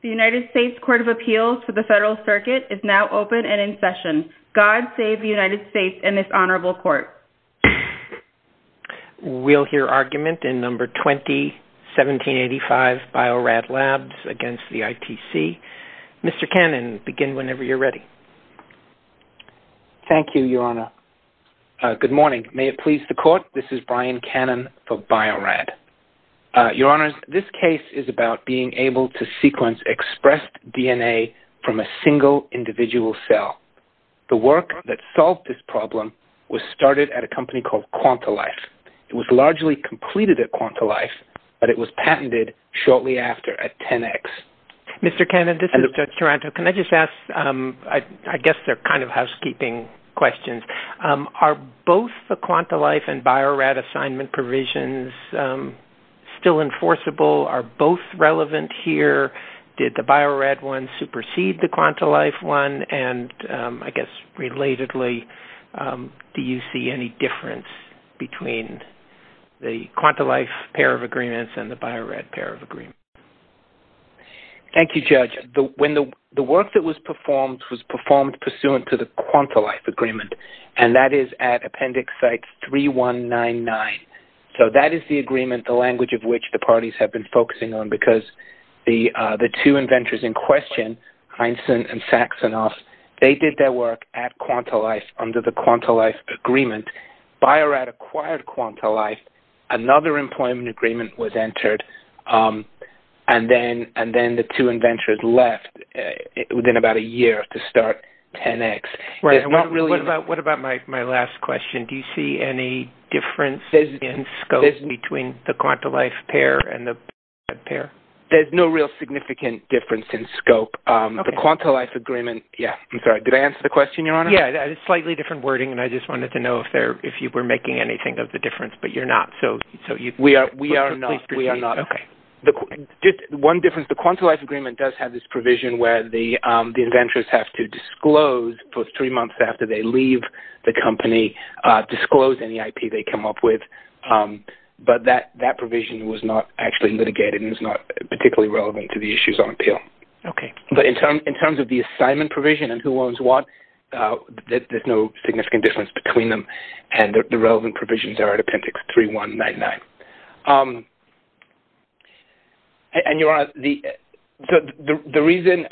The United States Court of Appeals for the Federal Circuit is now open and in session. God save the United States and this Honorable Court. We'll hear argument in No. 20-1785 Bio-Rad Labs v. ITC. Mr. Cannon, begin whenever you're ready. Thank you, Your Honor. Good morning. May it please the Court, this is Brian Cannon for Bio-Rad. Your Honor, this case is about being able to sequence expressed DNA from a single individual cell. The work that solved this problem was started at a company called Quantalife. It was largely completed at Quantalife, but it was patented shortly after at 10X. Mr. Cannon, this is Judge Taranto. Can I just ask, I guess they're kind of housekeeping questions. Are both the Quantalife and Bio-Rad assignment provisions still enforceable? Are both relevant here? Did the Bio-Rad one supersede the Quantalife one? And, I guess, relatedly, do you see any difference between the Quantalife pair of agreements and the Bio-Rad pair of agreements? Thank you, Judge. The work that was performed was performed pursuant to the Quantalife agreement, and that is at Appendix Site 3199. So that is the agreement, the language of which the parties have been focusing on, because the two inventors in question, Heinzen and Saxenos, they did their work at Quantalife under the Quantalife agreement. Bio-Rad acquired Quantalife. Another employment agreement was entered. And then the two inventors left within about a year to start 10X. What about my last question? Do you see any difference in scope between the Quantalife pair and the Bio-Rad pair? There's no real significant difference in scope. The Quantalife agreement, yes. I'm sorry, did I answer the question, Your Honor? Yes, slightly different wording, and I just wanted to know if you were making anything of the difference, but you're not. We are not. One difference, the Quantalife agreement does have this provision where the inventors have to disclose, for three months after they leave the company, disclose any IP they come up with. But that provision was not actually litigated and is not particularly relevant to the issues on appeal. But in terms of the assignment provision and who owns what, there's no significant difference between them, and the relevant provisions are at Appendix 3199. And, Your Honor, the reason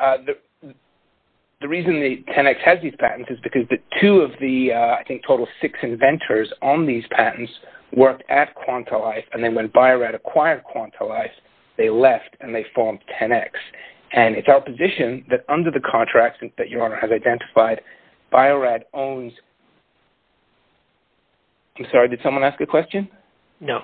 the 10X has these patents is because the two of the, I think, total six inventors on these patents worked at Quantalife, and then when Bio-Rad acquired Quantalife, they left and they formed 10X. And it's our position that under the contract that Your Honor has identified, Bio-Rad owns – I'm sorry, did someone ask a question? No.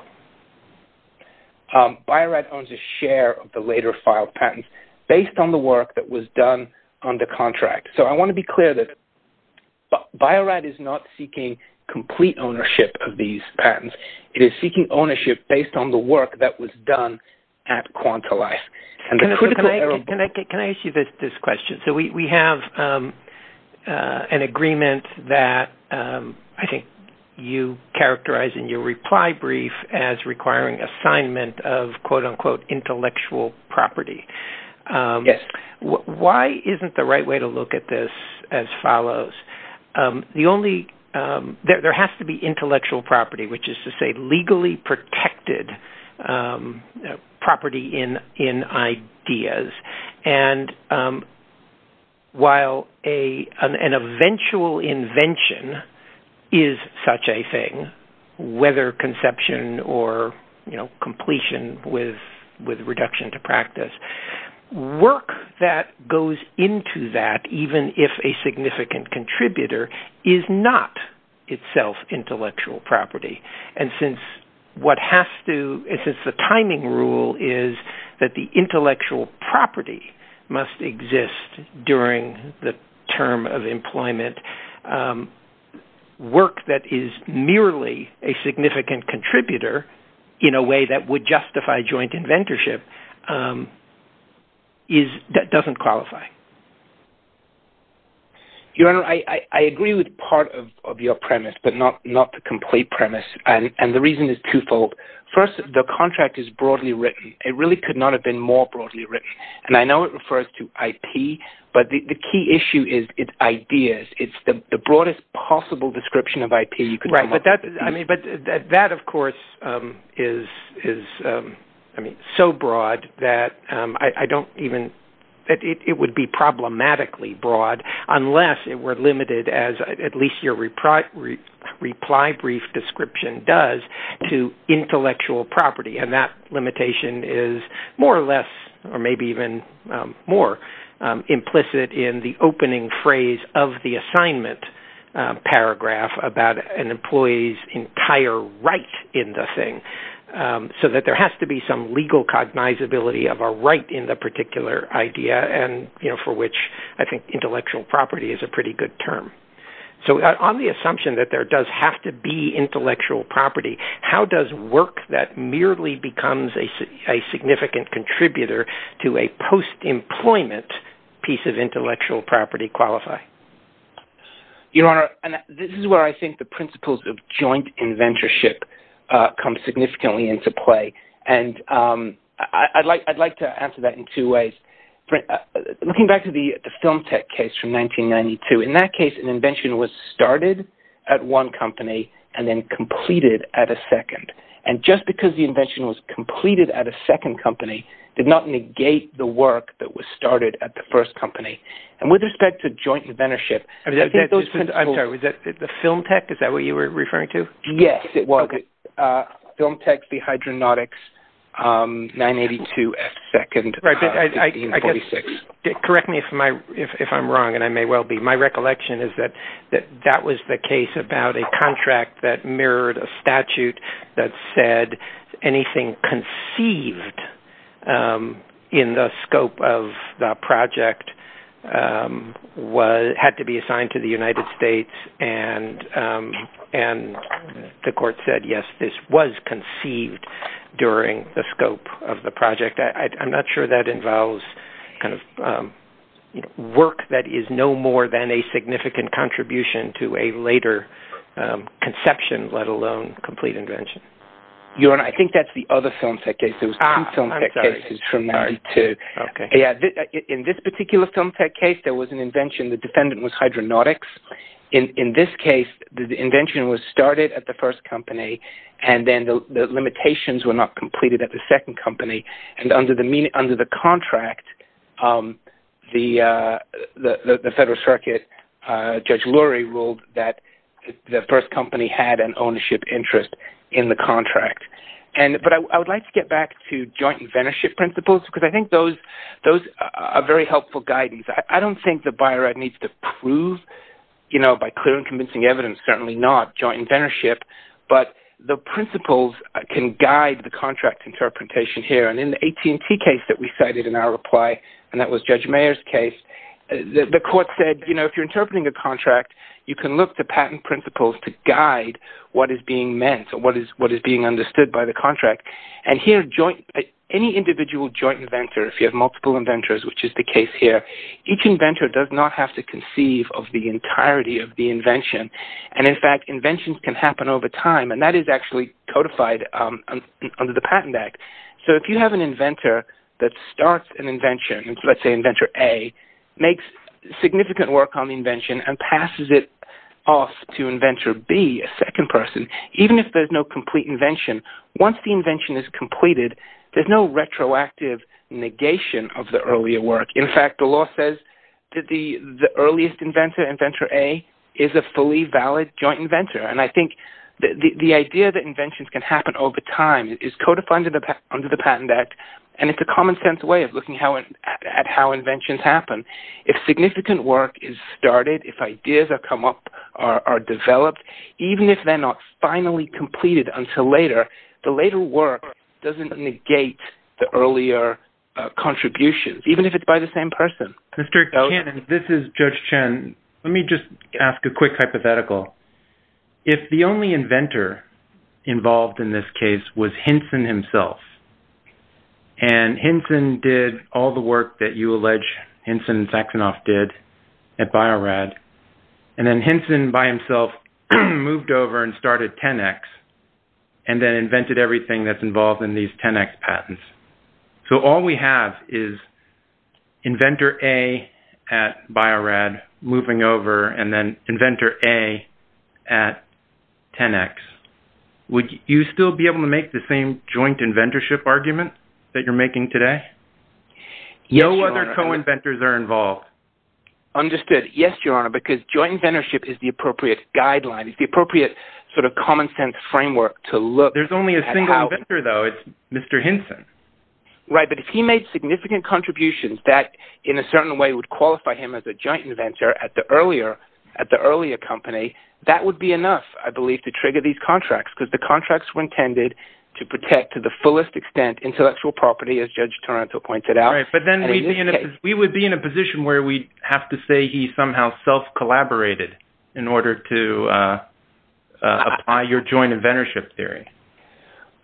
Bio-Rad owns a share of the later filed patents based on the work that was done under contract. So I want to be clear that Bio-Rad is not seeking complete ownership of these patents. It is seeking ownership based on the work that was done at Quantalife. Can I ask you this question? So we have an agreement that I think you characterized in your reply brief as requiring assignment of, quote-unquote, intellectual property. Yes. Why isn't the right way to look at this as follows? There has to be intellectual property, which is to say legally protected property in ideas. And while an eventual invention is such a thing, whether conception or completion with reduction to practice, work that goes into that, even if a significant contributor, is not itself intellectual property. And since the timing rule is that the intellectual property must exist during the term of employment, work that is merely a significant contributor in a way that would justify joint inventorship doesn't qualify. Your Honor, I agree with part of your premise, but not the complete premise. And the reason is twofold. First, the contract is broadly written. It really could not have been more broadly written. And I know it refers to IP, but the key issue is ideas. It's the broadest possible description of IP you could come up with. Right. But that, of course, is so broad that it would be problematically broad unless it were limited, as at least your reply brief description does, to intellectual property. And that limitation is more or less or maybe even more implicit in the opening phrase of the assignment paragraph about an employee's entire right in the thing. So that there has to be some legal cognizability of a right in the particular idea, for which I think intellectual property is a pretty good term. So on the assumption that there does have to be intellectual property, how does work that merely becomes a significant contributor to a post-employment piece of intellectual property qualify? Your Honor, this is where I think the principles of joint inventorship come significantly into play. And I'd like to answer that in two ways. Looking back to the Film Tech case from 1992, in that case an invention was started at one company and then completed at a second. And just because the invention was completed at a second company did not negate the work that was started at the first company. And with respect to joint inventorship, I think those principles… I'm sorry, was that the Film Tech? Is that what you were referring to? Yes, it was. Okay. Film Tech, the Hydronautics, 982F2nd, 1846. Correct me if I'm wrong, and I may well be. My recollection is that that was the case about a contract that mirrored a statute that said anything conceived in the scope of the project had to be assigned to the United States. And the court said, yes, this was conceived during the scope of the project. I'm not sure that involves work that is no more than a significant contribution to a later conception, let alone complete invention. I think that's the other Film Tech case. There was two Film Tech cases from 1992. In this particular Film Tech case, there was an invention. The defendant was Hydronautics. In this case, the invention was started at the first company, and then the limitations were not completed at the second company. And under the contract, the Federal Circuit, Judge Lurie ruled that the first company had an ownership interest in the contract. But I would like to get back to joint inventorship principles, because I think those are very helpful guidance. I don't think the Bio-Rad needs to prove, you know, by clear and convincing evidence, certainly not joint inventorship. But the principles can guide the contract interpretation here. And in the AT&T case that we cited in our reply, and that was Judge Mayer's case, the court said, you know, if you're interpreting a contract, you can look to patent principles to guide what is being meant or what is being understood by the contract. And here, any individual joint inventor, if you have multiple inventors, which is the case here, each inventor does not have to conceive of the entirety of the invention. And in fact, inventions can happen over time, and that is actually codified under the Patent Act. So if you have an inventor that starts an invention, let's say Inventor A, makes significant work on the invention and passes it off to Inventor B, a second person, even if there's no complete invention, once the invention is completed, there's no retroactive negation of the earlier work. In fact, the law says that the earliest inventor, Inventor A, is a fully valid joint inventor. And I think the idea that inventions can happen over time is codified under the Patent Act, and it's a common-sense way of looking at how inventions happen. If significant work is started, if ideas have come up, are developed, even if they're not finally completed until later, the later work doesn't negate the earlier contributions, even if it's by the same person. Mr. Cannon, this is Judge Chen. Let me just ask a quick hypothetical. If the only inventor involved in this case was Hinson himself, and Hinson did all the work that you allege Hinson and Saxenoff did at Bio-Rad, and then Hinson by himself moved over and started 10X, and then invented everything that's involved in these 10X patents. So all we have is Inventor A at Bio-Rad moving over, and then Inventor A at 10X. Would you still be able to make the same joint inventorship argument that you're making today? No other co-inventors are involved. Understood. Yes, Your Honor, because joint inventorship is the appropriate guideline. It's the appropriate sort of common-sense framework to look at how… Right, but if he made significant contributions that, in a certain way, would qualify him as a joint inventor at the earlier company, that would be enough, I believe, to trigger these contracts, because the contracts were intended to protect, to the fullest extent, intellectual property, as Judge Toronto pointed out. Right, but then we would be in a position where we'd have to say he somehow self-collaborated in order to apply your joint inventorship theory.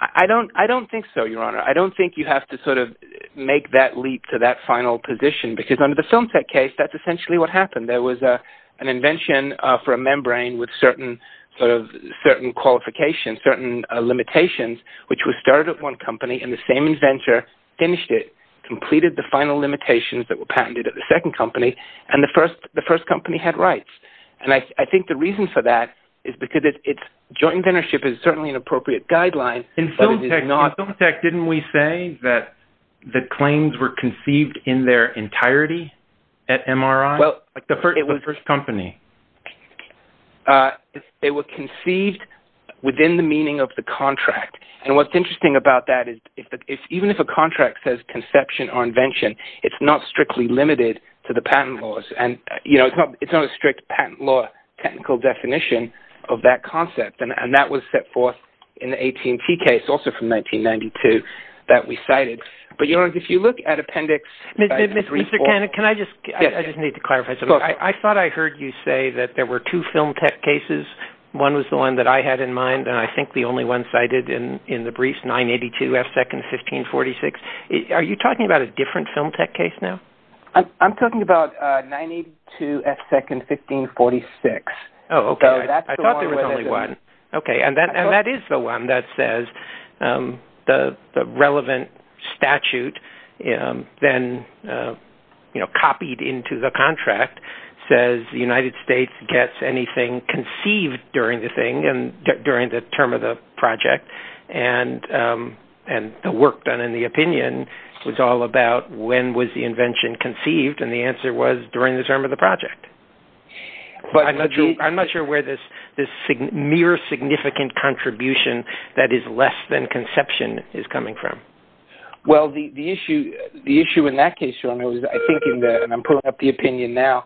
I don't think so, Your Honor. I don't think you have to sort of make that leap to that final position, because under the FilmTech case, that's essentially what happened. There was an invention for a membrane with certain qualifications, certain limitations, which was started at one company and the same inventor finished it, completed the final limitations that were patented at the second company, and the first company had rights. I think the reason for that is because joint inventorship is certainly an appropriate guideline, but it is not… In FilmTech, didn't we say that the claims were conceived in their entirety at MRI, the first company? They were conceived within the meaning of the contract, and what's interesting about that is even if a contract says conception or invention, it's not strictly limited to the patent laws, and it's not a strict patent law technical definition of that concept, and that was set forth in the AT&T case, also from 1992, that we cited. But, Your Honor, if you look at Appendix 3.4… Mr. Cannon, can I just… I just need to clarify something. I thought I heard you say that there were two FilmTech cases. One was the one that I had in mind, and I think the only one cited in the briefs, 982 F. Second, 1546. Are you talking about a different FilmTech case now? I'm talking about 982 F. Second, 1546. Oh, okay. I thought there was only one. Okay, and that is the one that says the relevant statute, then copied into the contract, says the United States gets anything conceived during the term of the project, and the work done in the opinion was all about when was the invention conceived, and the answer was during the term of the project. I'm not sure where this mere significant contribution that is less than conception is coming from. Well, the issue in that case, Your Honor, and I'm pulling up the opinion now,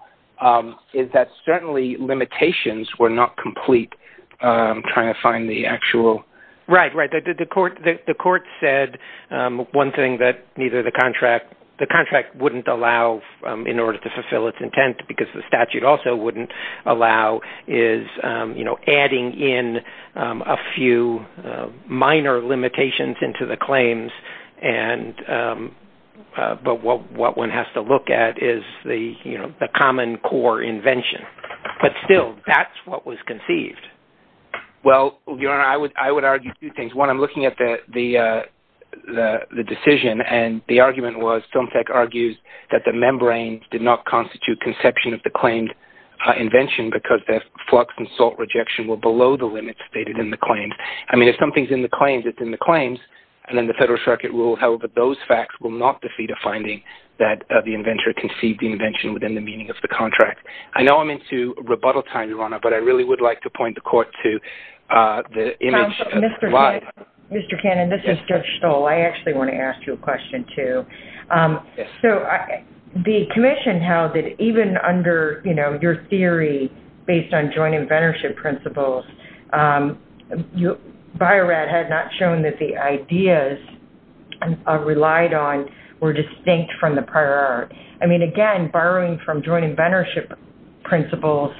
is that certainly limitations were not complete. I'm trying to find the actual… Right, right. The court said one thing that the contract wouldn't allow in order to fulfill its intent, because the statute also wouldn't allow, is adding in a few minor limitations into the claims, but what one has to look at is the common core invention. But still, that's what was conceived. Well, Your Honor, I would argue two things. One, I'm looking at the decision, and the argument was FilmTech argues that the membrane did not constitute conception of the claimed invention because the flux and salt rejection were below the limits stated in the claims. I mean, if something's in the claims, it's in the claims, and then the Federal Circuit rule held that those facts will not defeat a finding that the inventor conceived the invention within the meaning of the contract. I know I'm into rebuttal time, Your Honor, but I really would like to point the court to the image slide. Mr. Cannon, this is Judge Stoll. I actually want to ask you a question too. Yes. The commission held that even under your theory based on joint inventorship principles, Bio-Rad had not shown that the ideas relied on were distinct from the prior art. I mean, again, borrowing from joint inventorship principles,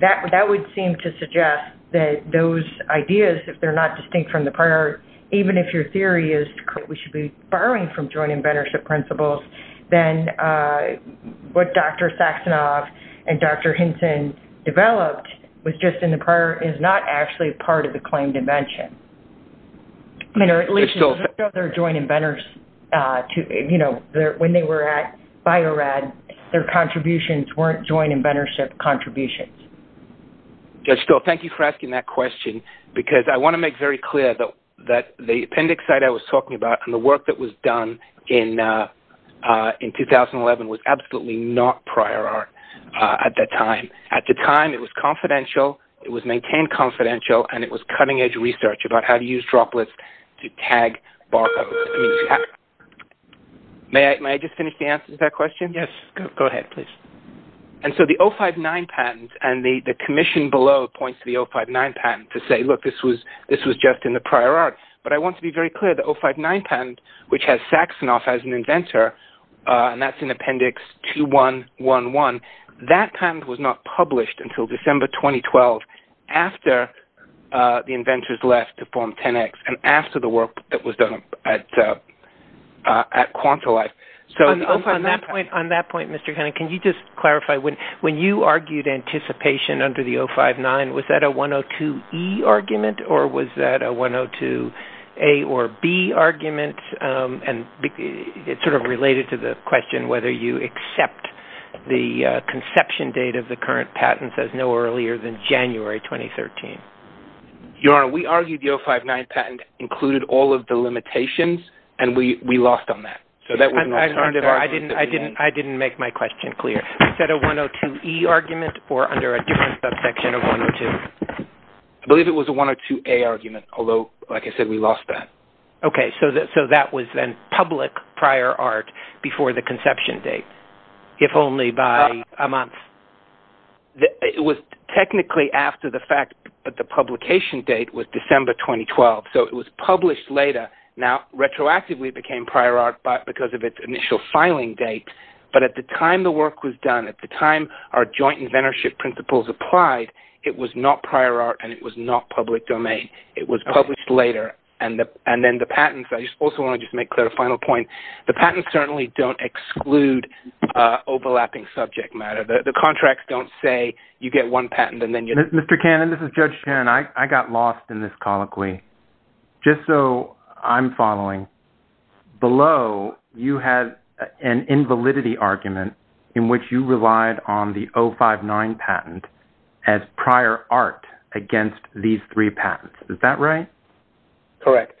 that would seem to suggest that those ideas, if they're not distinct from the prior art, even if your theory is that we should be borrowing from joint inventorship principles, then what Dr. Saxenoff and Dr. Hinton developed was just in the prior art, is not actually part of the claimed invention. Your Honor, at least in other joint inventors, when they were at Bio-Rad, their contributions weren't joint inventorship contributions. Judge Stoll, thank you for asking that question because I want to make very clear that the appendix site I was talking about and the work that was done in 2011 was absolutely not prior art at that time. At the time, it was confidential, it was maintained confidential, and it was cutting-edge research about how to use droplets to tag barcodes. May I just finish the answer to that question? Yes, go ahead, please. And so the 059 patent and the commission below points to the 059 patent to say, look, this was just in the prior art. But I want to be very clear, the 059 patent, which has Saxenoff as an inventor, and that's in appendix 2111, that patent was not published until December 2012 after the inventors left to form 10X and after the work that was done at Quantolife. On that point, Mr. Conant, can you just clarify, when you argued anticipation under the 059, was that a 102E argument or was that a 102A or B argument? And it's sort of related to the question whether you accept the conception date of the current patents as no earlier than January 2013. Your Honor, we argued the 059 patent included all of the limitations, and we lost on that. I didn't make my question clear. Is that a 102E argument or under a different subsection of 102? I believe it was a 102A argument, although, like I said, we lost that. Okay, so that was then public prior art before the conception date, if only by a month. It was technically after the fact, but the publication date was December 2012. So it was published later. Now, retroactively, it became prior art because of its initial filing date, but at the time the work was done, at the time our joint inventorship principles applied, it was not prior art and it was not public domain. It was published later. And then the patents, I just also want to just make clear a final point. The patents certainly don't exclude overlapping subject matter. The contracts don't say you get one patent and then you… Mr. Cannon, this is Judge Shannon. I got lost in this colloquy. Just so I'm following, below you had an invalidity argument in which you relied on the 059 patent as prior art against these three patents. Is that right? Correct.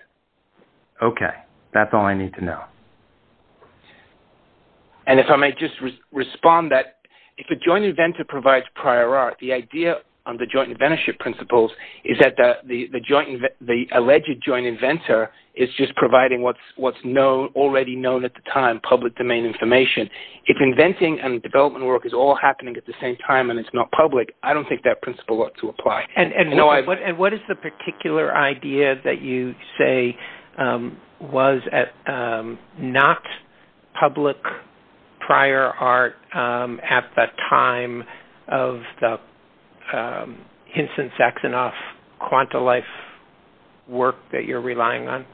Okay. That's all I need to know. And if I may just respond that if a joint inventor provides prior art, the idea of the joint inventorship principles is that the alleged joint inventor is just providing what's already known at the time, public domain information. If inventing and development work is all happening at the same time and it's not public, I don't think that principle ought to apply. And what is the particular idea that you say was not public prior art at the time of the Hinson-Saxonoff quanta life work that you're relying on?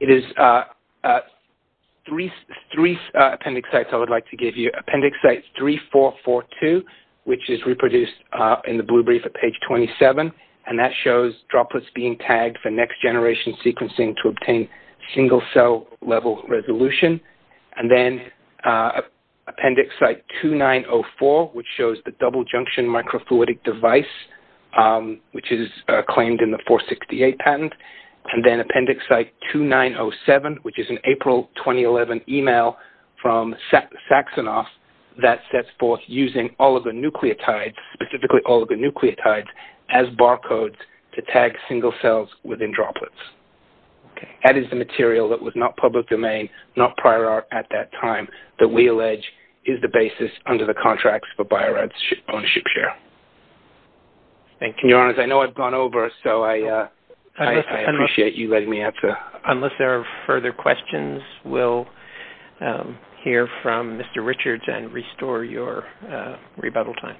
It is three appendix sites I would like to give you. Appendix site 3442, which is reproduced in the blue brief at page 27, and that shows droplets being tagged for next-generation sequencing to obtain single-cell level resolution. And then appendix site 2904, which shows the double-junction microfluidic device, which is claimed in the 468 patent. And then appendix site 2907, which is an April 2011 email from Saxonoff that sets forth using oligonucleotides, specifically oligonucleotides, as barcodes to tag single cells within droplets. That is the material that was not public domain, not prior art at that time, that we allege is the basis under the contracts for Bio-Rad's ownership share. Thank you. Your Honor, I know I've gone over, so I appreciate you letting me answer. Unless there are further questions, we'll hear from Mr. Richards and restore your rebuttal time.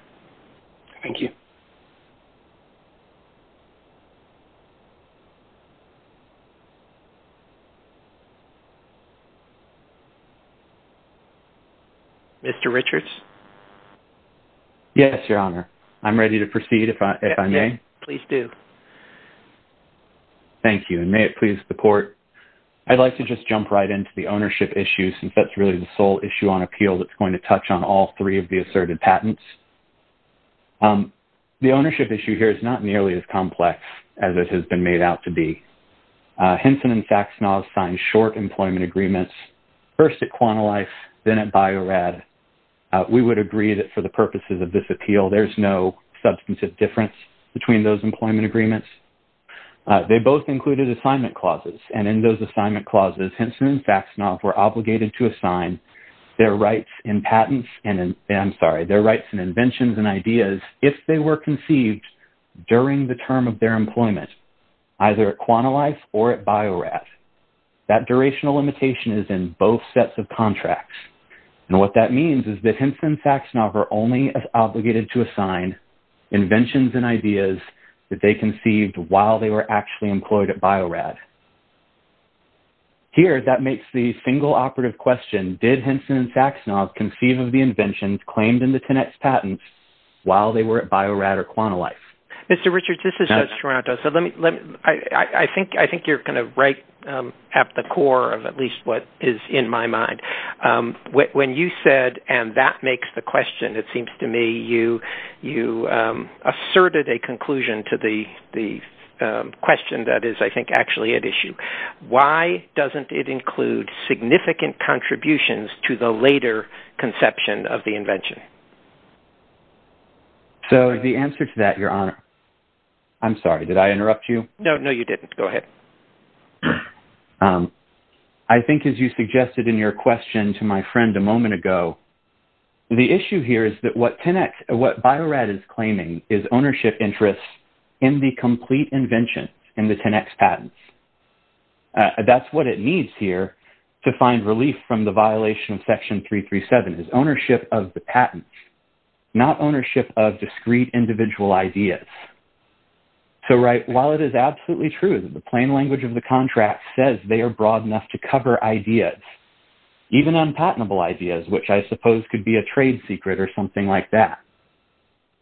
Thank you. Mr. Richards? Yes, Your Honor. I'm ready to proceed, if I may. Please do. Thank you, and may it please the Court. I'd like to just jump right into the ownership issue, since that's really the sole issue on appeal that's going to touch on all three of the asserted patents. The ownership issue here is not nearly as complex as it has been made out to be. Hinson and Faxenoff signed short employment agreements, first at Quantalife, then at Bio-Rad. We would agree that for the purposes of this appeal, there's no substantive difference between those employment agreements. They both included assignment clauses, and in those assignment clauses, Hinson and Faxenoff were obligated to assign their rights in patents, I'm sorry, their rights in inventions and ideas, if they were conceived during the term of their employment, either at Quantalife or at Bio-Rad. That durational limitation is in both sets of contracts. And what that means is that Hinson and Faxenoff are only obligated to assign inventions and ideas that they conceived while they were actually employed at Bio-Rad. Here, that makes the single operative question, did Hinson and Faxenoff conceive of the inventions claimed in the Tenet's patents while they were at Bio-Rad or Quantalife? Mr. Richards, this is Judge Toronto. I think you're kind of right at the core of at least what is in my mind. When you said, and that makes the question, it seems to me you asserted a conclusion to the question that is, I think, actually at issue. Why doesn't it include significant contributions to the later conception of the invention? So, the answer to that, Your Honor, I'm sorry, did I interrupt you? No, no, you didn't. Go ahead. I think as you suggested in your question to my friend a moment ago, the issue here is that what Bio-Rad is claiming is ownership interests in the complete invention in the Tenet's patents. That's what it needs here to find relief from the violation of Section 337 is ownership of the patents, not ownership of discrete individual ideas. So, right, while it is absolutely true that the plain language of the contract says they are broad enough to cover ideas, even unpatentable ideas, which I suppose could be a trade secret or something like that,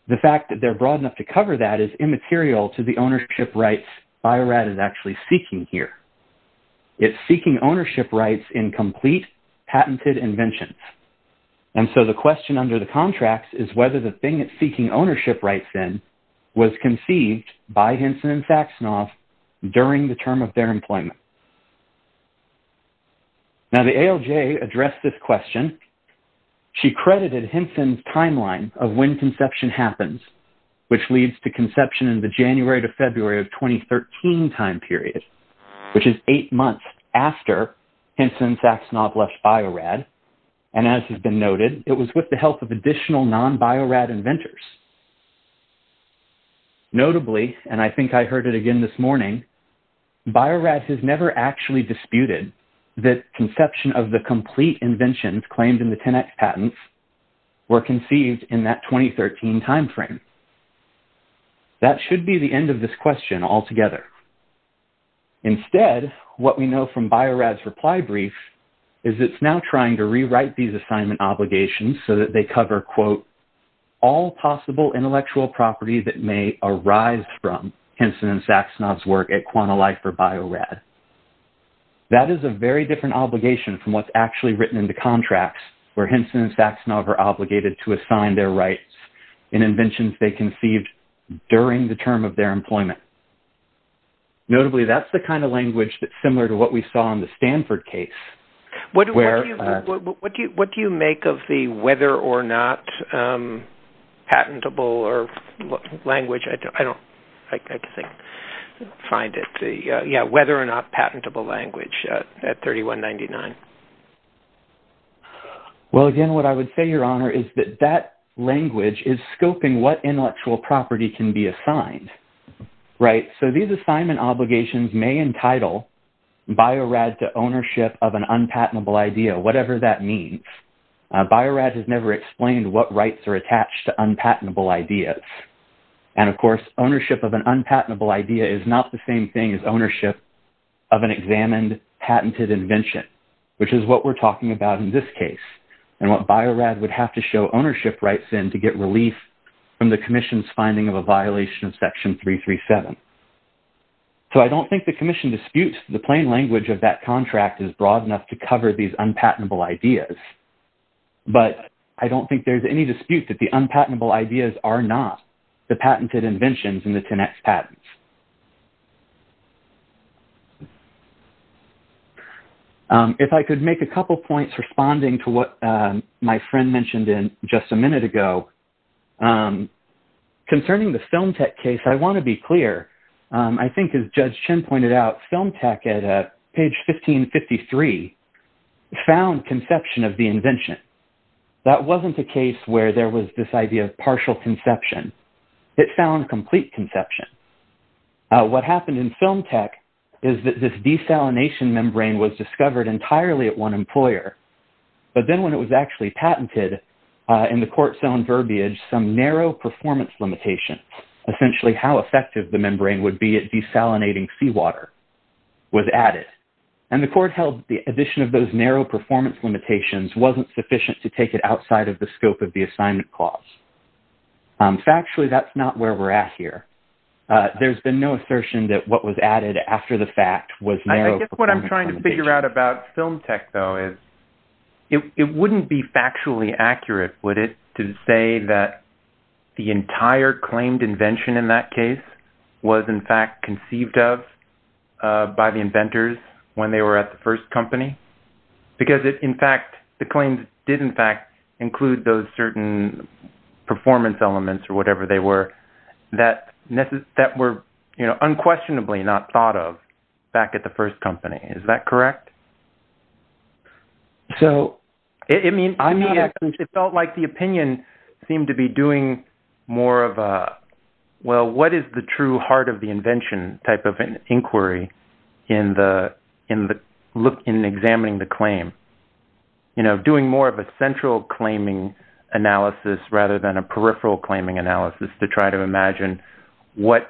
the fact that they're broad enough to cover that is immaterial to the ownership rights Bio-Rad is actually seeking here. It's seeking ownership rights in complete patented inventions. And so, the question under the contract is whether the thing it's seeking ownership rights in was conceived by Hinson and Saxenoff during the term of their employment. Now, the ALJ addressed this question. She credited Hinson's timeline of when conception happens, which leads to conception in the January to February of 2013 time period, which is eight months after Hinson and Saxenoff left Bio-Rad. And as has been noted, it was with the help of additional non-Bio-Rad inventors. Notably, and I think I heard it again this morning, Bio-Rad has never actually disputed that conception of the complete inventions claimed in the Tenet patents were conceived in that 2013 timeframe. That should be the end of this question altogether. Instead, what we know from Bio-Rad's reply brief is it's now trying to rewrite these assignment obligations so that they cover, quote, all possible intellectual property that may arise from Hinson and Saxenoff's work at Quantalife or Bio-Rad. That is a very different obligation from what's actually written in the contracts where Hinson and Saxenoff are obligated to assign their rights in inventions they conceived during the term of their employment. Notably, that's the kind of language that's similar to what we saw in the Stanford case. What do you make of the whether or not patentable language at 3199? Well, again, what I would say, Your Honor, is that that language is scoping what intellectual property can be assigned. Right, so these assignment obligations may entitle Bio-Rad to ownership of an unpatentable idea, whatever that means. Bio-Rad has never explained what rights are attached to unpatentable ideas. And of course, ownership of an unpatentable idea is not the same thing as ownership of an examined patented invention, which is what we're talking about in this case. And what Bio-Rad would have to show ownership rights in to get relief from the commission's finding of a violation of Section 337. So I don't think the commission disputes the plain language of that contract is broad enough to cover these unpatentable ideas. But I don't think there's any dispute that the unpatentable ideas are not the patented inventions in the 10X patents. If I could make a couple points responding to what my friend mentioned in just a minute ago. Concerning the Film Tech case, I want to be clear. I think as Judge Chin pointed out, Film Tech at page 1553 found conception of the invention. That wasn't a case where there was this idea of partial conception. It found complete conception. What happened in Film Tech is that this desalination membrane was discovered entirely at one employer. But then when it was actually patented in the court's own verbiage, some narrow performance limitation, essentially how effective the membrane would be at desalinating seawater, was added. And the court held the addition of those narrow performance limitations wasn't sufficient to take it outside of the scope of the assignment clause. Factually, that's not where we're at here. There's been no assertion that what was added after the fact was narrow performance limitation. I guess what I'm trying to figure out about Film Tech, though, is it wouldn't be factually accurate, would it, to say that the entire claimed invention in that case was in fact conceived of by the inventors when they were at the first company? Because in fact, the claims did in fact include those certain performance elements or whatever they were that were unquestionably not thought of back at the first company. Is that correct? It felt like the opinion seemed to be doing more of a, well, what is the true heart of the invention type of inquiry in examining the claim? Doing more of a central claiming analysis rather than a peripheral claiming analysis to try to imagine what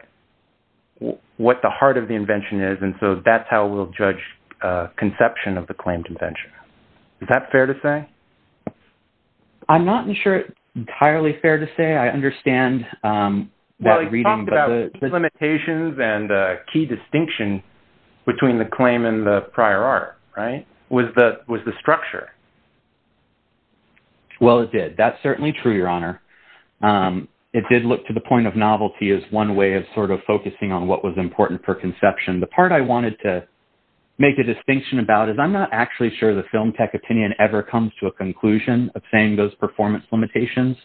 the heart of the invention is. And so that's how we'll judge conception of the claimed invention. Is that fair to say? I'm not entirely sure it's fair to say. I understand that reading. You talked about limitations and a key distinction between the claim and the prior art, right? Was the structure. Well, it did. That's certainly true, Your Honor. It did look to the point of novelty as one way of sort of focusing on what was important for conception. The part I wanted to make a distinction about is I'm not actually sure the film tech opinion ever comes to a conclusion of saying those performance limitations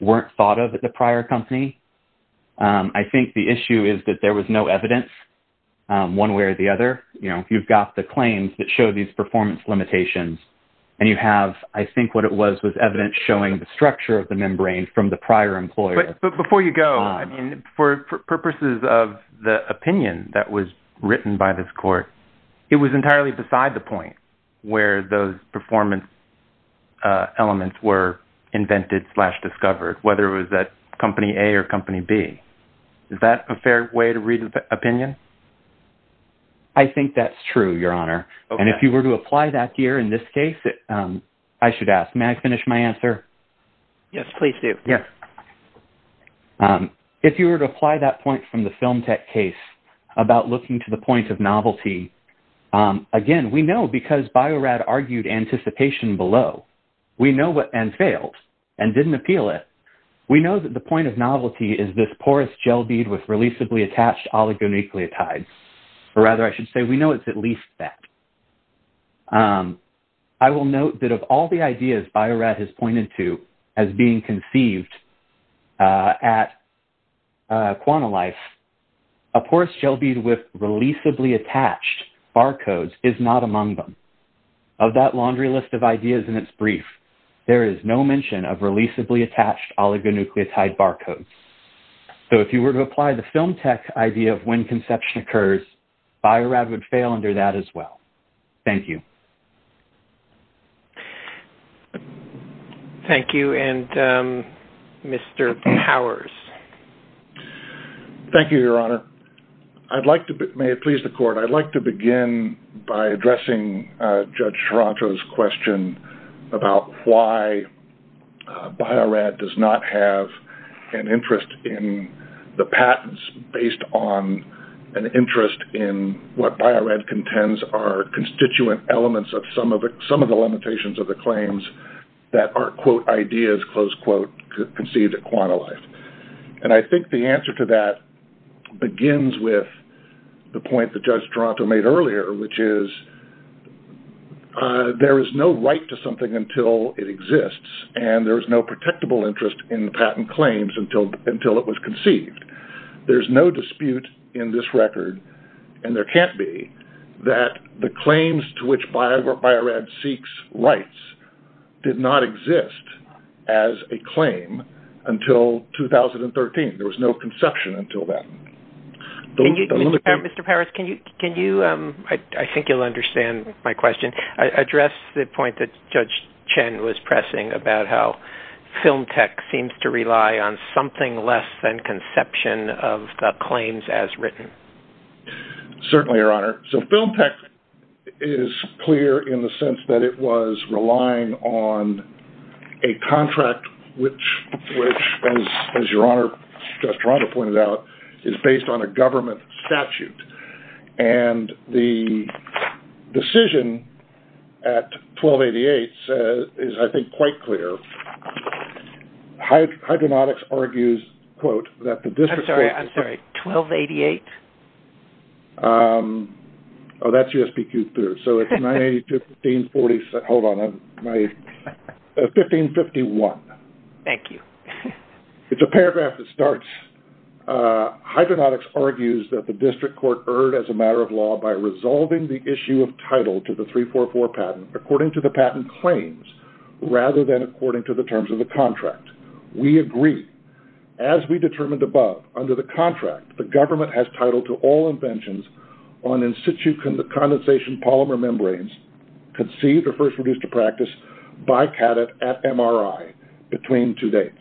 weren't thought of at the prior company. I think the issue is that there was no evidence one way or the other. You've got the claims that show these performance limitations, and you have, I think what it was, was evidence showing the structure of the membrane from the prior employer. But before you go, for purposes of the opinion that was written by this court, it was entirely beside the point where those performance elements were invented slash discovered, whether it was that company A or company B. Is that a fair way to read the opinion? I think that's true, Your Honor. And if you were to apply that here in this case, I should ask. May I finish my answer? Yes, please do. If you were to apply that point from the film tech case about looking to the point of novelty, again, we know because Bio-Rad argued anticipation below and failed and didn't appeal it. We know that the point of novelty is this porous gel bead with releasably attached oligonucleotides. Or rather, I should say, we know it's at least that. I will note that of all the ideas Bio-Rad has pointed to as being conceived at Quantalife, a porous gel bead with releasably attached barcodes is not among them. Of that laundry list of ideas in its brief, there is no mention of releasably attached oligonucleotide barcodes. So if you were to apply the film tech idea of when conception occurs, Bio-Rad would fail under that as well. Thank you. Thank you. And Mr. Powers? Thank you, Your Honor. May it please the Court, I'd like to begin by addressing Judge Taranto's question about why Bio-Rad does not have an interest in the patents based on an interest in what Bio-Rad contends are constituent elements of some of the limitations of the claims that are, quote, ideas, close quote, conceived at Quantalife. And I think the answer to that begins with the point that Judge Taranto made earlier, which is there is no right to something until it exists, and there is no protectable interest in patent claims until it was conceived. There's no dispute in this record, and there can't be, that the claims to which Bio-Rad seeks rights did not exist as a claim until 2013. There was no conception until then. Mr. Powers, I think you'll understand my question. Address the point that Judge Chen was pressing about how film tech seems to rely on something less than conception of the claims as written. Certainly, Your Honor. So film tech is clear in the sense that it was relying on a contract which, as Your Honor, Judge Taranto pointed out, is based on a government statute. And the decision at 1288 is, I think, quite clear. Hydronautics argues, quote, that the district court… I'm sorry, I'm sorry. 1288? Oh, that's USPQ 3rd. So it's 982, 1540, hold on, 1551. Thank you. It's a paragraph that starts, Hydronautics argues that the district court erred as a matter of law by resolving the issue of title to the 344 patent according to the patent claims rather than according to the terms of the contract. We agree. As we determined above, under the contract, the government has title to all inventions on in situ condensation polymer membranes conceived or first produced to practice by CADET at MRI between two dates.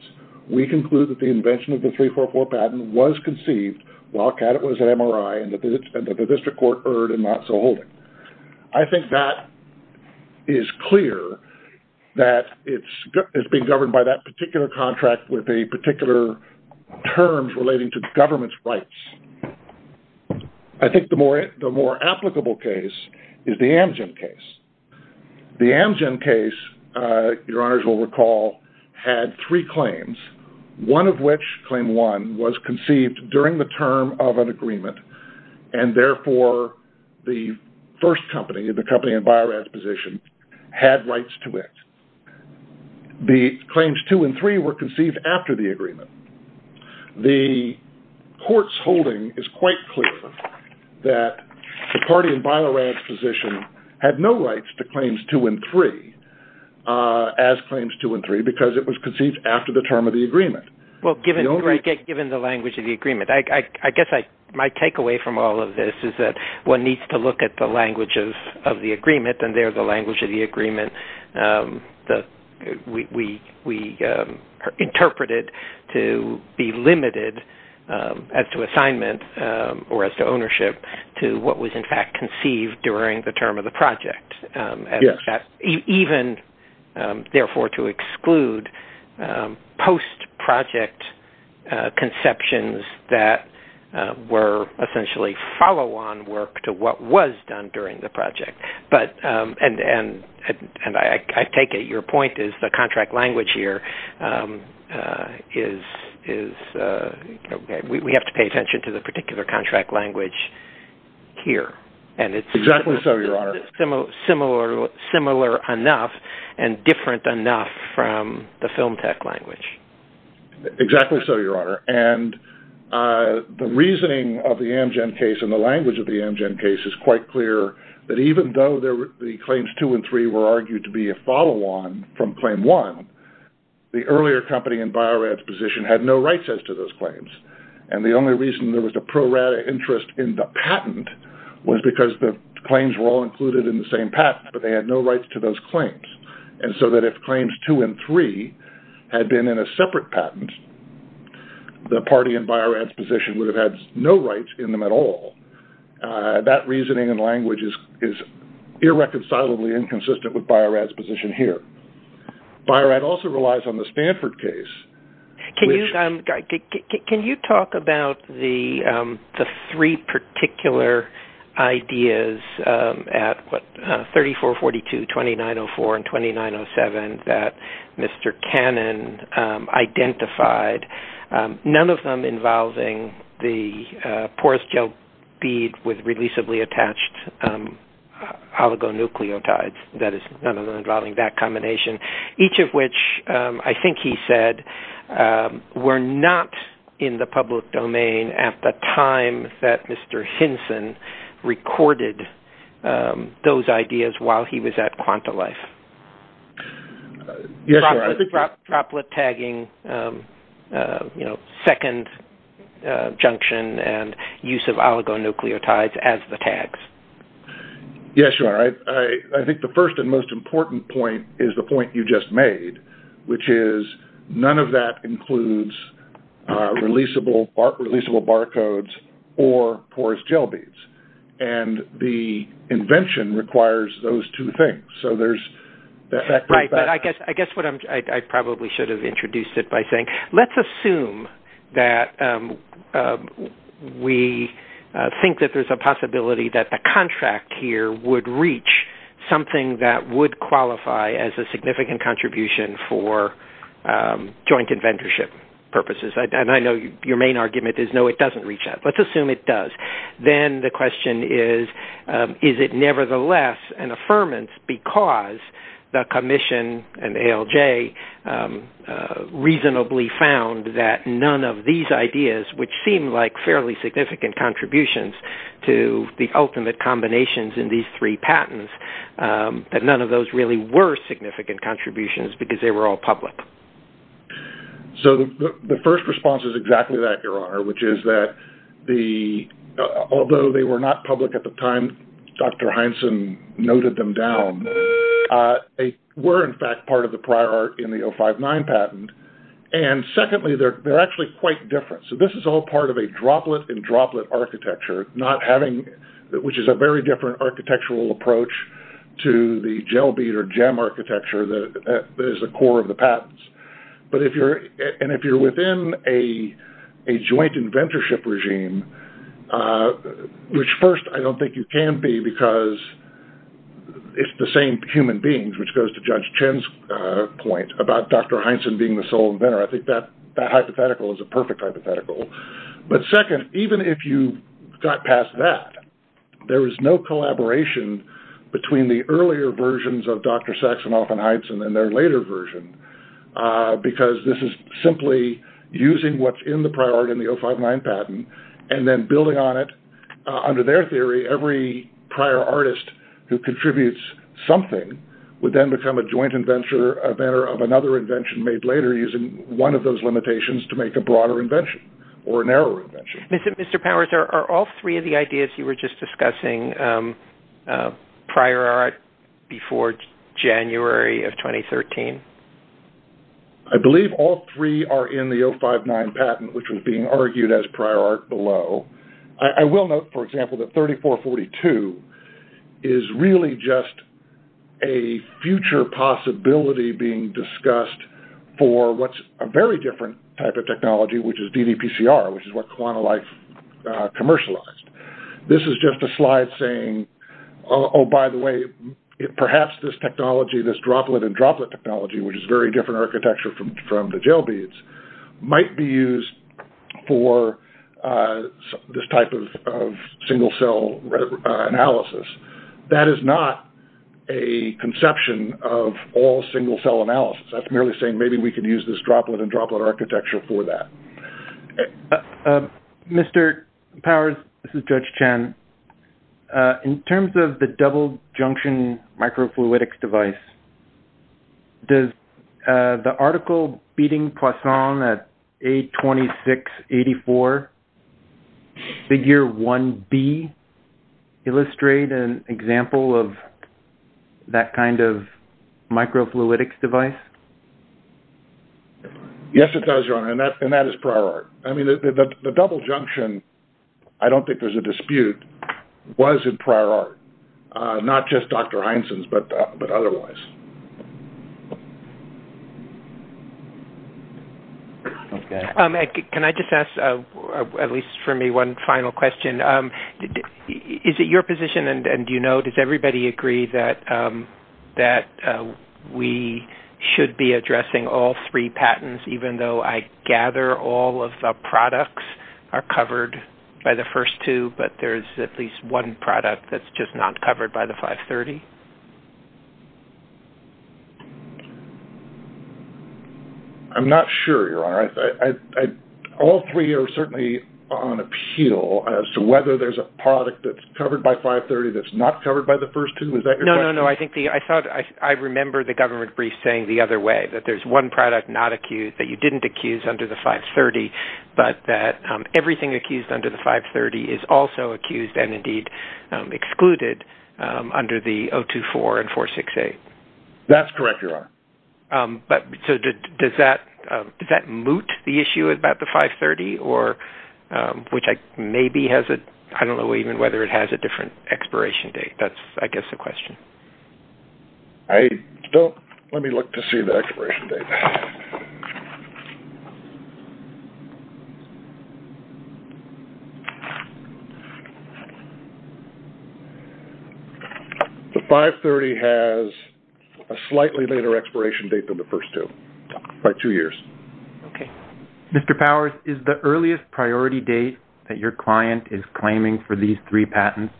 We conclude that the invention of the 344 patent was conceived while CADET was at MRI and that the district court erred in not so holding. I think that is clear that it's being governed by that particular contract with a particular term relating to government's rights. I think the more applicable case is the Amgen case. The Amgen case, your honors will recall, had three claims, one of which, claim one, was conceived during the term of an agreement and therefore the first company, the company in Bio-Rad's position, had rights to it. The claims two and three were conceived after the agreement. The court's holding is quite clear that the party in Bio-Rad's position had no rights to claims two and three as claims two and three because it was conceived after the term of the agreement. Well, given the language of the agreement, I guess my takeaway from all of this is that one needs to look at the language of the agreement and there the language of the agreement we interpreted to be limited as to assignment or as to ownership to what was in fact conceived during the term of the project. Even, therefore, to exclude post-project conceptions that were essentially follow-on work to what was done during the project. I take it your point is the contract language here is – we have to pay attention to the particular contract language here. Exactly so, your honor. Is it similar enough and different enough from the film tech language? Exactly so, your honor. The reasoning of the Amgen case and the language of the Amgen case is quite clear that even though the claims two and three were argued to be a follow-on from claim one, the earlier company in Bio-Rad's position had no rights as to those claims. And the only reason there was a pro-Rad interest in the patent was because the claims were all included in the same patent but they had no rights to those claims. And so that if claims two and three had been in a separate patent, the party in Bio-Rad's position would have had no rights in them at all. That reasoning and language is irreconcilably inconsistent with Bio-Rad's position here. Bio-Rad also relies on the Stanford case. Can you talk about the three particular ideas at 3442, 2904, and 2907 that Mr. Cannon identified, none of them involving the porous gel bead with releasably attached oligonucleotides? That is, none of them involving that combination, each of which I think he said were not in the public domain at the time that Mr. Hinson recorded those ideas while he was at Quantalife. Yes, your honor. Droplet tagging, you know, second junction and use of oligonucleotides as the tags. Yes, your honor. I think the first and most important point is the point you just made, which is none of that includes releasable barcodes or porous gel beads. And the invention requires those two things. Right, but I guess I probably should have introduced it by saying let's assume that we think that there's a possibility that the contract here would reach something that would qualify as a significant contribution for joint inventorship purposes. And I know your main argument is no, it doesn't reach that. Let's assume it does. Then the question is, is it nevertheless an affirmance because the commission and ALJ reasonably found that none of these ideas, which seem like fairly significant contributions to the ultimate combinations in these three patents, that none of those really were significant contributions because they were all public? So the first response is exactly that, your honor, which is that although they were not public at the time Dr. Heinsohn noted them down, they were in fact part of the prior art in the 059 patent. And secondly, they're actually quite different. So this is all part of a droplet in droplet architecture, which is a very different architectural approach to the gel bead or gem architecture that is the core of the patents. And if you're within a joint inventorship regime, which first I don't think you can be because it's the same human beings, which goes to Judge Chen's point about Dr. Heinsohn being the sole inventor. I think that hypothetical is a perfect hypothetical. But second, even if you got past that, there is no collaboration between the earlier versions of Dr. Sachsenhoff and Heinsohn and their later version because this is simply using what's in the prior art in the 059 patent and then building on it. Under their theory, every prior artist who contributes something would then become a joint inventor of another invention made later using one of those limitations to make a broader invention or a narrower invention. Mr. Powers, are all three of the ideas you were just discussing prior art before January of 2013? I believe all three are in the 059 patent, which was being argued as prior art below. I will note, for example, that 3442 is really just a future possibility being discussed for what's a very different type of technology, which is DDPCR, which is what Quantalife commercialized. This is just a slide saying, oh, by the way, perhaps this technology, this droplet and droplet technology, which is very different architecture from the gel beads, might be used for this type of single cell analysis. That is not a conception of all single cell analysis. That's merely saying maybe we could use this droplet and droplet architecture for that. Mr. Powers, this is Judge Chen. In terms of the double junction microfluidics device, does the article beating Poisson at A2684 figure 1B illustrate an example of that kind of microfluidics device? Yes, it does, Your Honor, and that is prior art. The double junction, I don't think there's a dispute, was in prior art, not just Dr. Heinsen's, but otherwise. Can I just ask, at least for me, one final question? Is it your position, and do you know, does everybody agree that we should be addressing all three patents, even though I gather all of the products are covered by the first two, but there's at least one product that's just not covered by the 530? I'm not sure, Your Honor. All three are certainly on appeal as to whether there's a product that's covered by 530 that's not covered by the first two. Is that your question? No, no, no. I remember the government brief saying the other way, that there's one product not accused, that you didn't accuse under the 530, but that everything accused under the 530 is also accused and, indeed, excluded under the 024 and 468. That's correct, Your Honor. Does that moot the issue about the 530, which maybe has a – I don't know even whether it has a different expiration date. That's, I guess, the question. Let me look to see the expiration date. The 530 has a slightly later expiration date than the first two, by two years. Okay. Mr. Powers, is the earliest priority date that your client is claiming for these three patents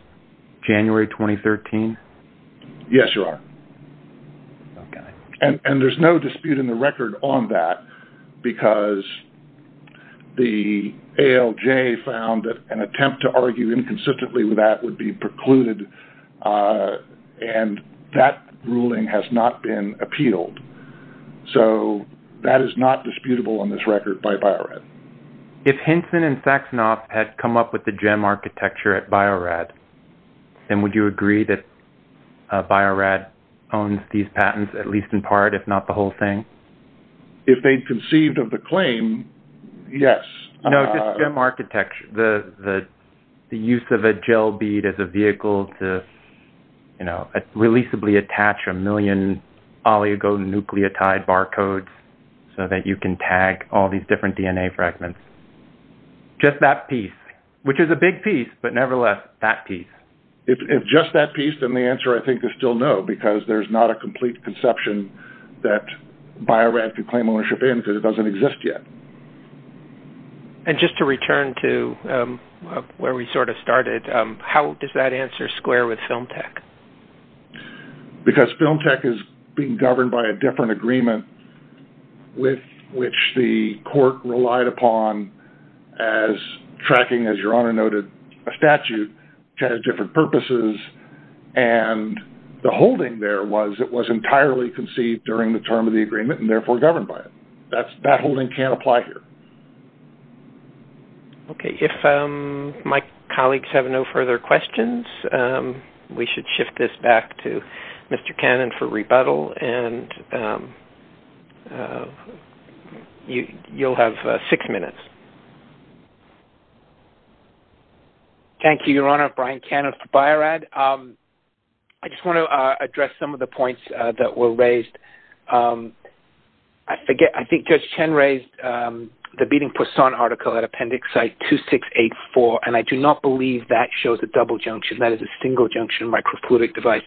January 2013? Yes, Your Honor. Okay. And there's no dispute in the record on that because the ALJ found that an attempt to argue inconsistently with that would be precluded, and that ruling has not been appealed. So that is not disputable on this record by Bio-Rad. If Hinson and Saxenoff had come up with the gem architecture at Bio-Rad, then would you agree that Bio-Rad owns these patents, at least in part, if not the whole thing? If they'd conceived of the claim, yes. No, just gem architecture. The use of a gel bead as a vehicle to, you know, releasably attach a million oligonucleotide barcodes so that you can tag all these different DNA fragments. Just that piece, which is a big piece, but nevertheless, that piece. If just that piece, then the answer, I think, is still no because there's not a complete conception that Bio-Rad could claim ownership in because it doesn't exist yet. And just to return to where we sort of started, how does that answer square with Film Tech? Because Film Tech is being governed by a different agreement with which the court relied upon as tracking, as Your Honor noted, a statute that has different purposes. And the holding there was it was entirely conceived during the term of the agreement and therefore governed by it. That holding can't apply here. Okay, if my colleagues have no further questions, we should shift this back to Mr. Cannon for rebuttal. And you'll have six minutes. Thank you, Your Honor. Brian Cannon for Bio-Rad. I just want to address some of the points that were raised. I think Judge Chen raised the beating Poisson article at Appendix 2684. And I do not believe that shows a double junction. That is a single junction micropolytic device.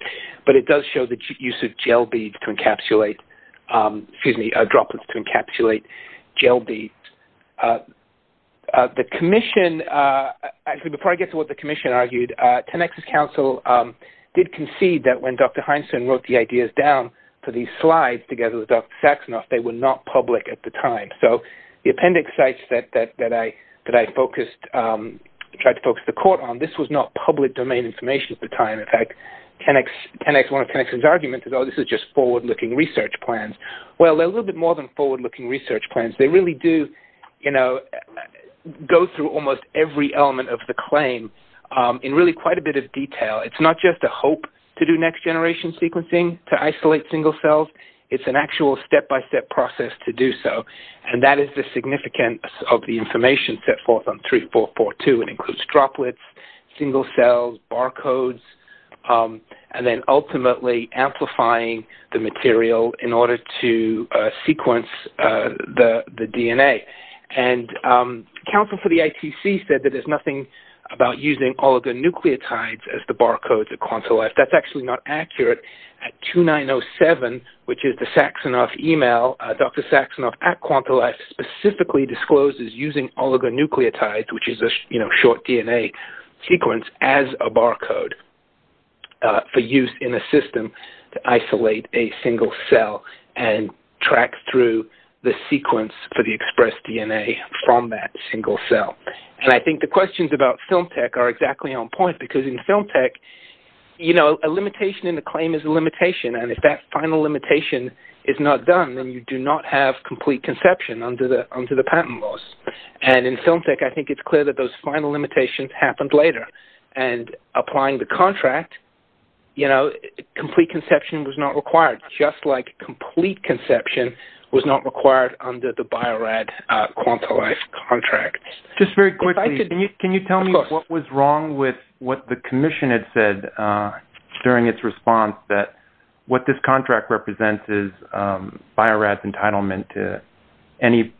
But it does show the use of gel beads to encapsulate—excuse me, droplets to encapsulate gel beads. The commission—actually, before I get to what the commission argued, Tenex's counsel did concede that when Dr. Heinsohn wrote the ideas down for these slides together with Dr. Saxenoff, they were not public at the time. So the appendix sites that I focused—tried to focus the court on, this was not public domain information at the time. In fact, Tenex—one of Tenex's arguments is, oh, this is just forward-looking research plans. Well, they're a little bit more than forward-looking research plans. They really do, you know, go through almost every element of the claim in really quite a bit of detail. It's not just a hope to do next-generation sequencing to isolate single cells. It's an actual step-by-step process to do so. And that is the significance of the information set forth on 3442. It includes droplets, single cells, barcodes, and then ultimately amplifying the material in order to sequence the DNA. And counsel for the ITC said that there's nothing about using oligonucleotides as the barcodes at Quantilife. That's actually not accurate. At 2907, which is the Saxonoff email, Dr. Saxonoff at Quantilife specifically discloses using oligonucleotides, which is a short DNA sequence, as a barcode for use in a system to isolate a single cell and track through the sequence for the expressed DNA from that single cell. And I think the questions about FilmTech are exactly on point because in FilmTech, you know, a limitation in the claim is a limitation, and if that final limitation is not done, then you do not have complete conception under the patent laws. And in FilmTech, I think it's clear that those final limitations happened later. And applying the contract, you know, complete conception was not required, just like complete conception was not required under the Bio-Rad Quantilife contract. Just very quickly, can you tell me what was wrong with what the commission had said during its response, that what this contract represents is Bio-Rad's entitlement to any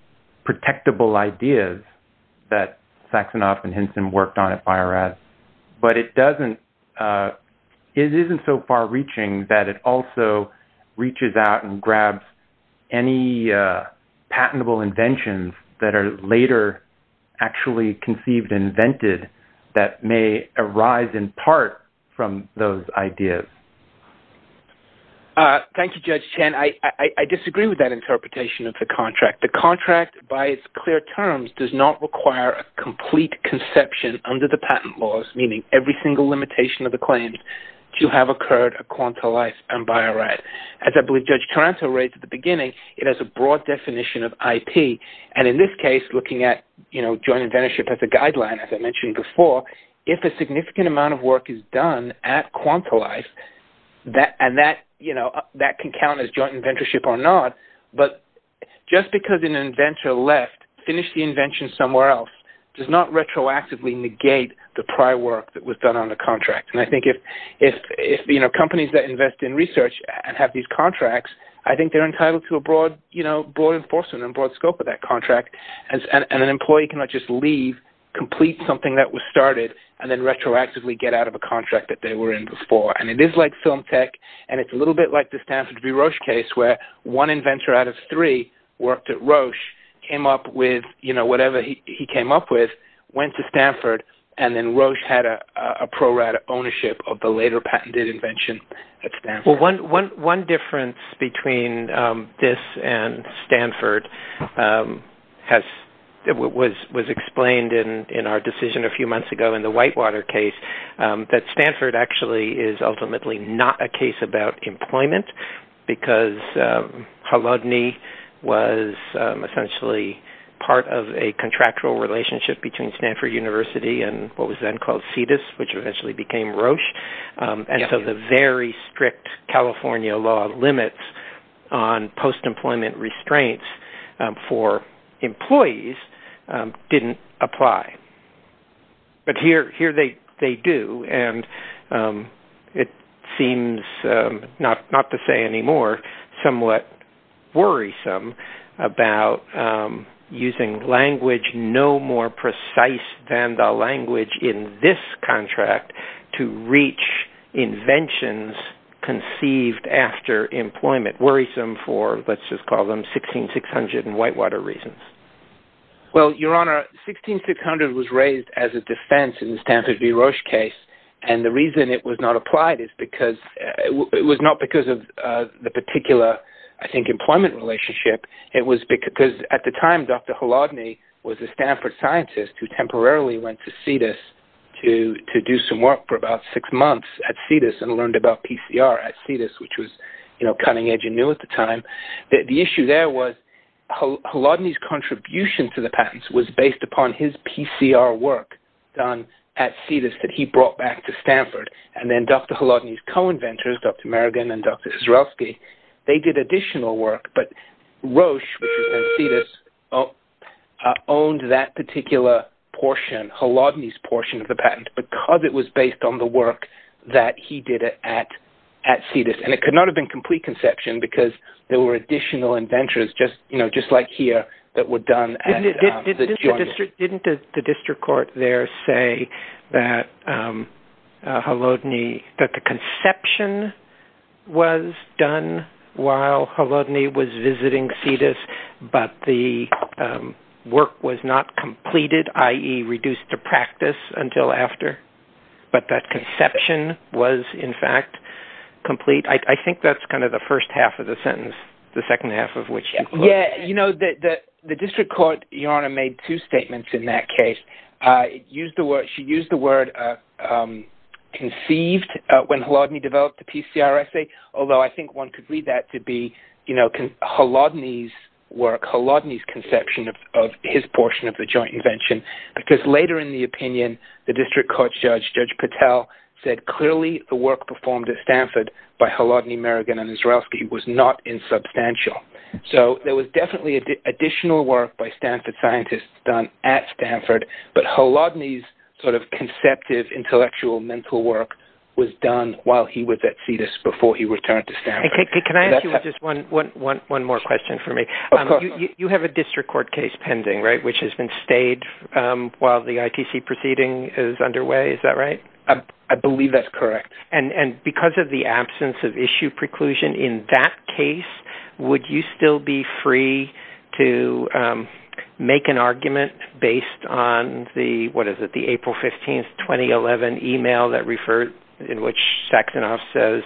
protectable ideas that Saxonoff and Hinson worked on at Bio-Rad. But it doesn't – it isn't so far-reaching that it also reaches out and grabs any patentable inventions that are later actually conceived and invented that may arise in part from those ideas. Thank you, Judge Chen. I disagree with that interpretation of the contract. The contract, by its clear terms, does not require a complete conception under the patent laws, meaning every single limitation of the claims to have occurred at Quantilife and Bio-Rad. As I believe Judge Taranto raised at the beginning, it has a broad definition of IP. And in this case, looking at, you know, joint inventorship as a guideline, as I mentioned before, if a significant amount of work is done at Quantilife, and that, you know, that can count as joint inventorship or not. But just because an inventor left, finished the invention somewhere else, does not retroactively negate the prior work that was done on the contract. And I think if, you know, companies that invest in research and have these contracts, I think they're entitled to a broad, you know, broad enforcement and broad scope of that contract. And an employee cannot just leave, complete something that was started, and then retroactively get out of a contract that they were in before. And it is like film tech, and it's a little bit like the Stanford v. Roche case, where one inventor out of three worked at Roche, came up with, you know, whatever he came up with, went to Stanford, and then Roche had a pro-rata ownership of the later patented invention at Stanford. Well, one difference between this and Stanford was explained in our decision a few months ago in the Whitewater case that Stanford actually is ultimately not a case about employment, because Halodny was essentially part of a contractual relationship between Stanford University and what was then called Cetus, which eventually became Roche. And so the very strict California law limits on post-employment restraints for employees didn't apply. But here they do. And it seems, not to say anymore, somewhat worrisome about using language no more precise than the language in this contract to reach inventions conceived after employment, worrisome for, let's just call them, 1600 and Whitewater reasons. Well, Your Honor, 1600 was raised as a defense in the Stanford v. Roche case, and the reason it was not applied is because it was not because of the particular, I think, employment relationship. It was because at the time Dr. Halodny was a Stanford scientist who temporarily went to Cetus to do some work for about six months at Cetus and learned about PCR at Cetus, which was, you know, cutting edge and new at the time. The issue there was Halodny's contribution to the patents was based upon his PCR work done at Cetus that he brought back to Stanford. And then Dr. Halodny's co-inventors, Dr. Merrigan and Dr. Israelski, they did additional work. But Roche, which is at Cetus, owned that particular portion, Halodny's portion of the patent, because it was based on the work that he did at Cetus. And it could not have been complete conception because there were additional inventors, you know, just like here, that were done at the joint. Didn't the district court there say that Halodny, that the conception was done while Halodny was visiting Cetus, but the work was not completed, i.e. reduced to practice until after, but that conception was, in fact, complete? I think that's kind of the first half of the sentence, the second half of which you quoted. Yeah, you know, the district court, Your Honor, made two statements in that case. She used the word conceived when Halodny developed the PCR assay, although I think one could read that to be, you know, Halodny's work, Halodny's conception of his portion of the joint invention, because later in the opinion, the district court judge, Judge Patel, said clearly the work performed at Stanford by Halodny, Merrigan, and Israelski was not insubstantial. So there was definitely additional work by Stanford scientists done at Stanford, but Halodny's sort of conceptive intellectual mental work was done while he was at Cetus, before he returned to Stanford. Can I ask you just one more question for me? Of course. You have a district court case pending, right, which has been stayed while the ITC proceeding is underway. Is that right? I believe that's correct. And because of the absence of issue preclusion in that case, would you still be free to make an argument based on the, what is it, the April 15, 2011 email that referred, in which Saxenoff says,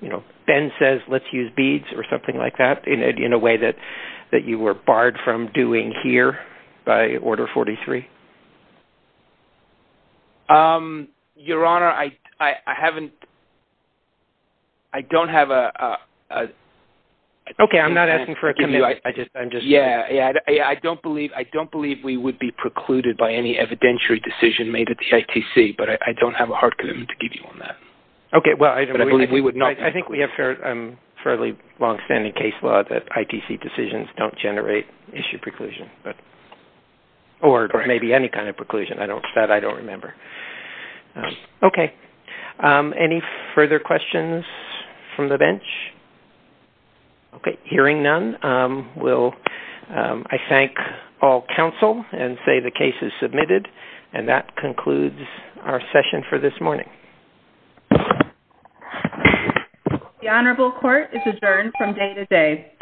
you know, Ben says let's use beads or something like that, in a way that you were barred from doing here by Order 43? Your Honor, I haven't, I don't have a. Okay, I'm not asking for a commitment. Yeah, I don't believe we would be precluded by any evidentiary decision made at the ITC, but I don't have a hard commitment to give you on that. Okay, well, I believe we would not. I think we have fairly long-standing case law that ITC decisions don't generate issue preclusion, or maybe any kind of preclusion. That I don't remember. Okay. Any further questions from the bench? Okay. Hearing none, I thank all counsel and say the case is submitted, and that concludes our session for this morning. The Honorable Court is adjourned from day to day.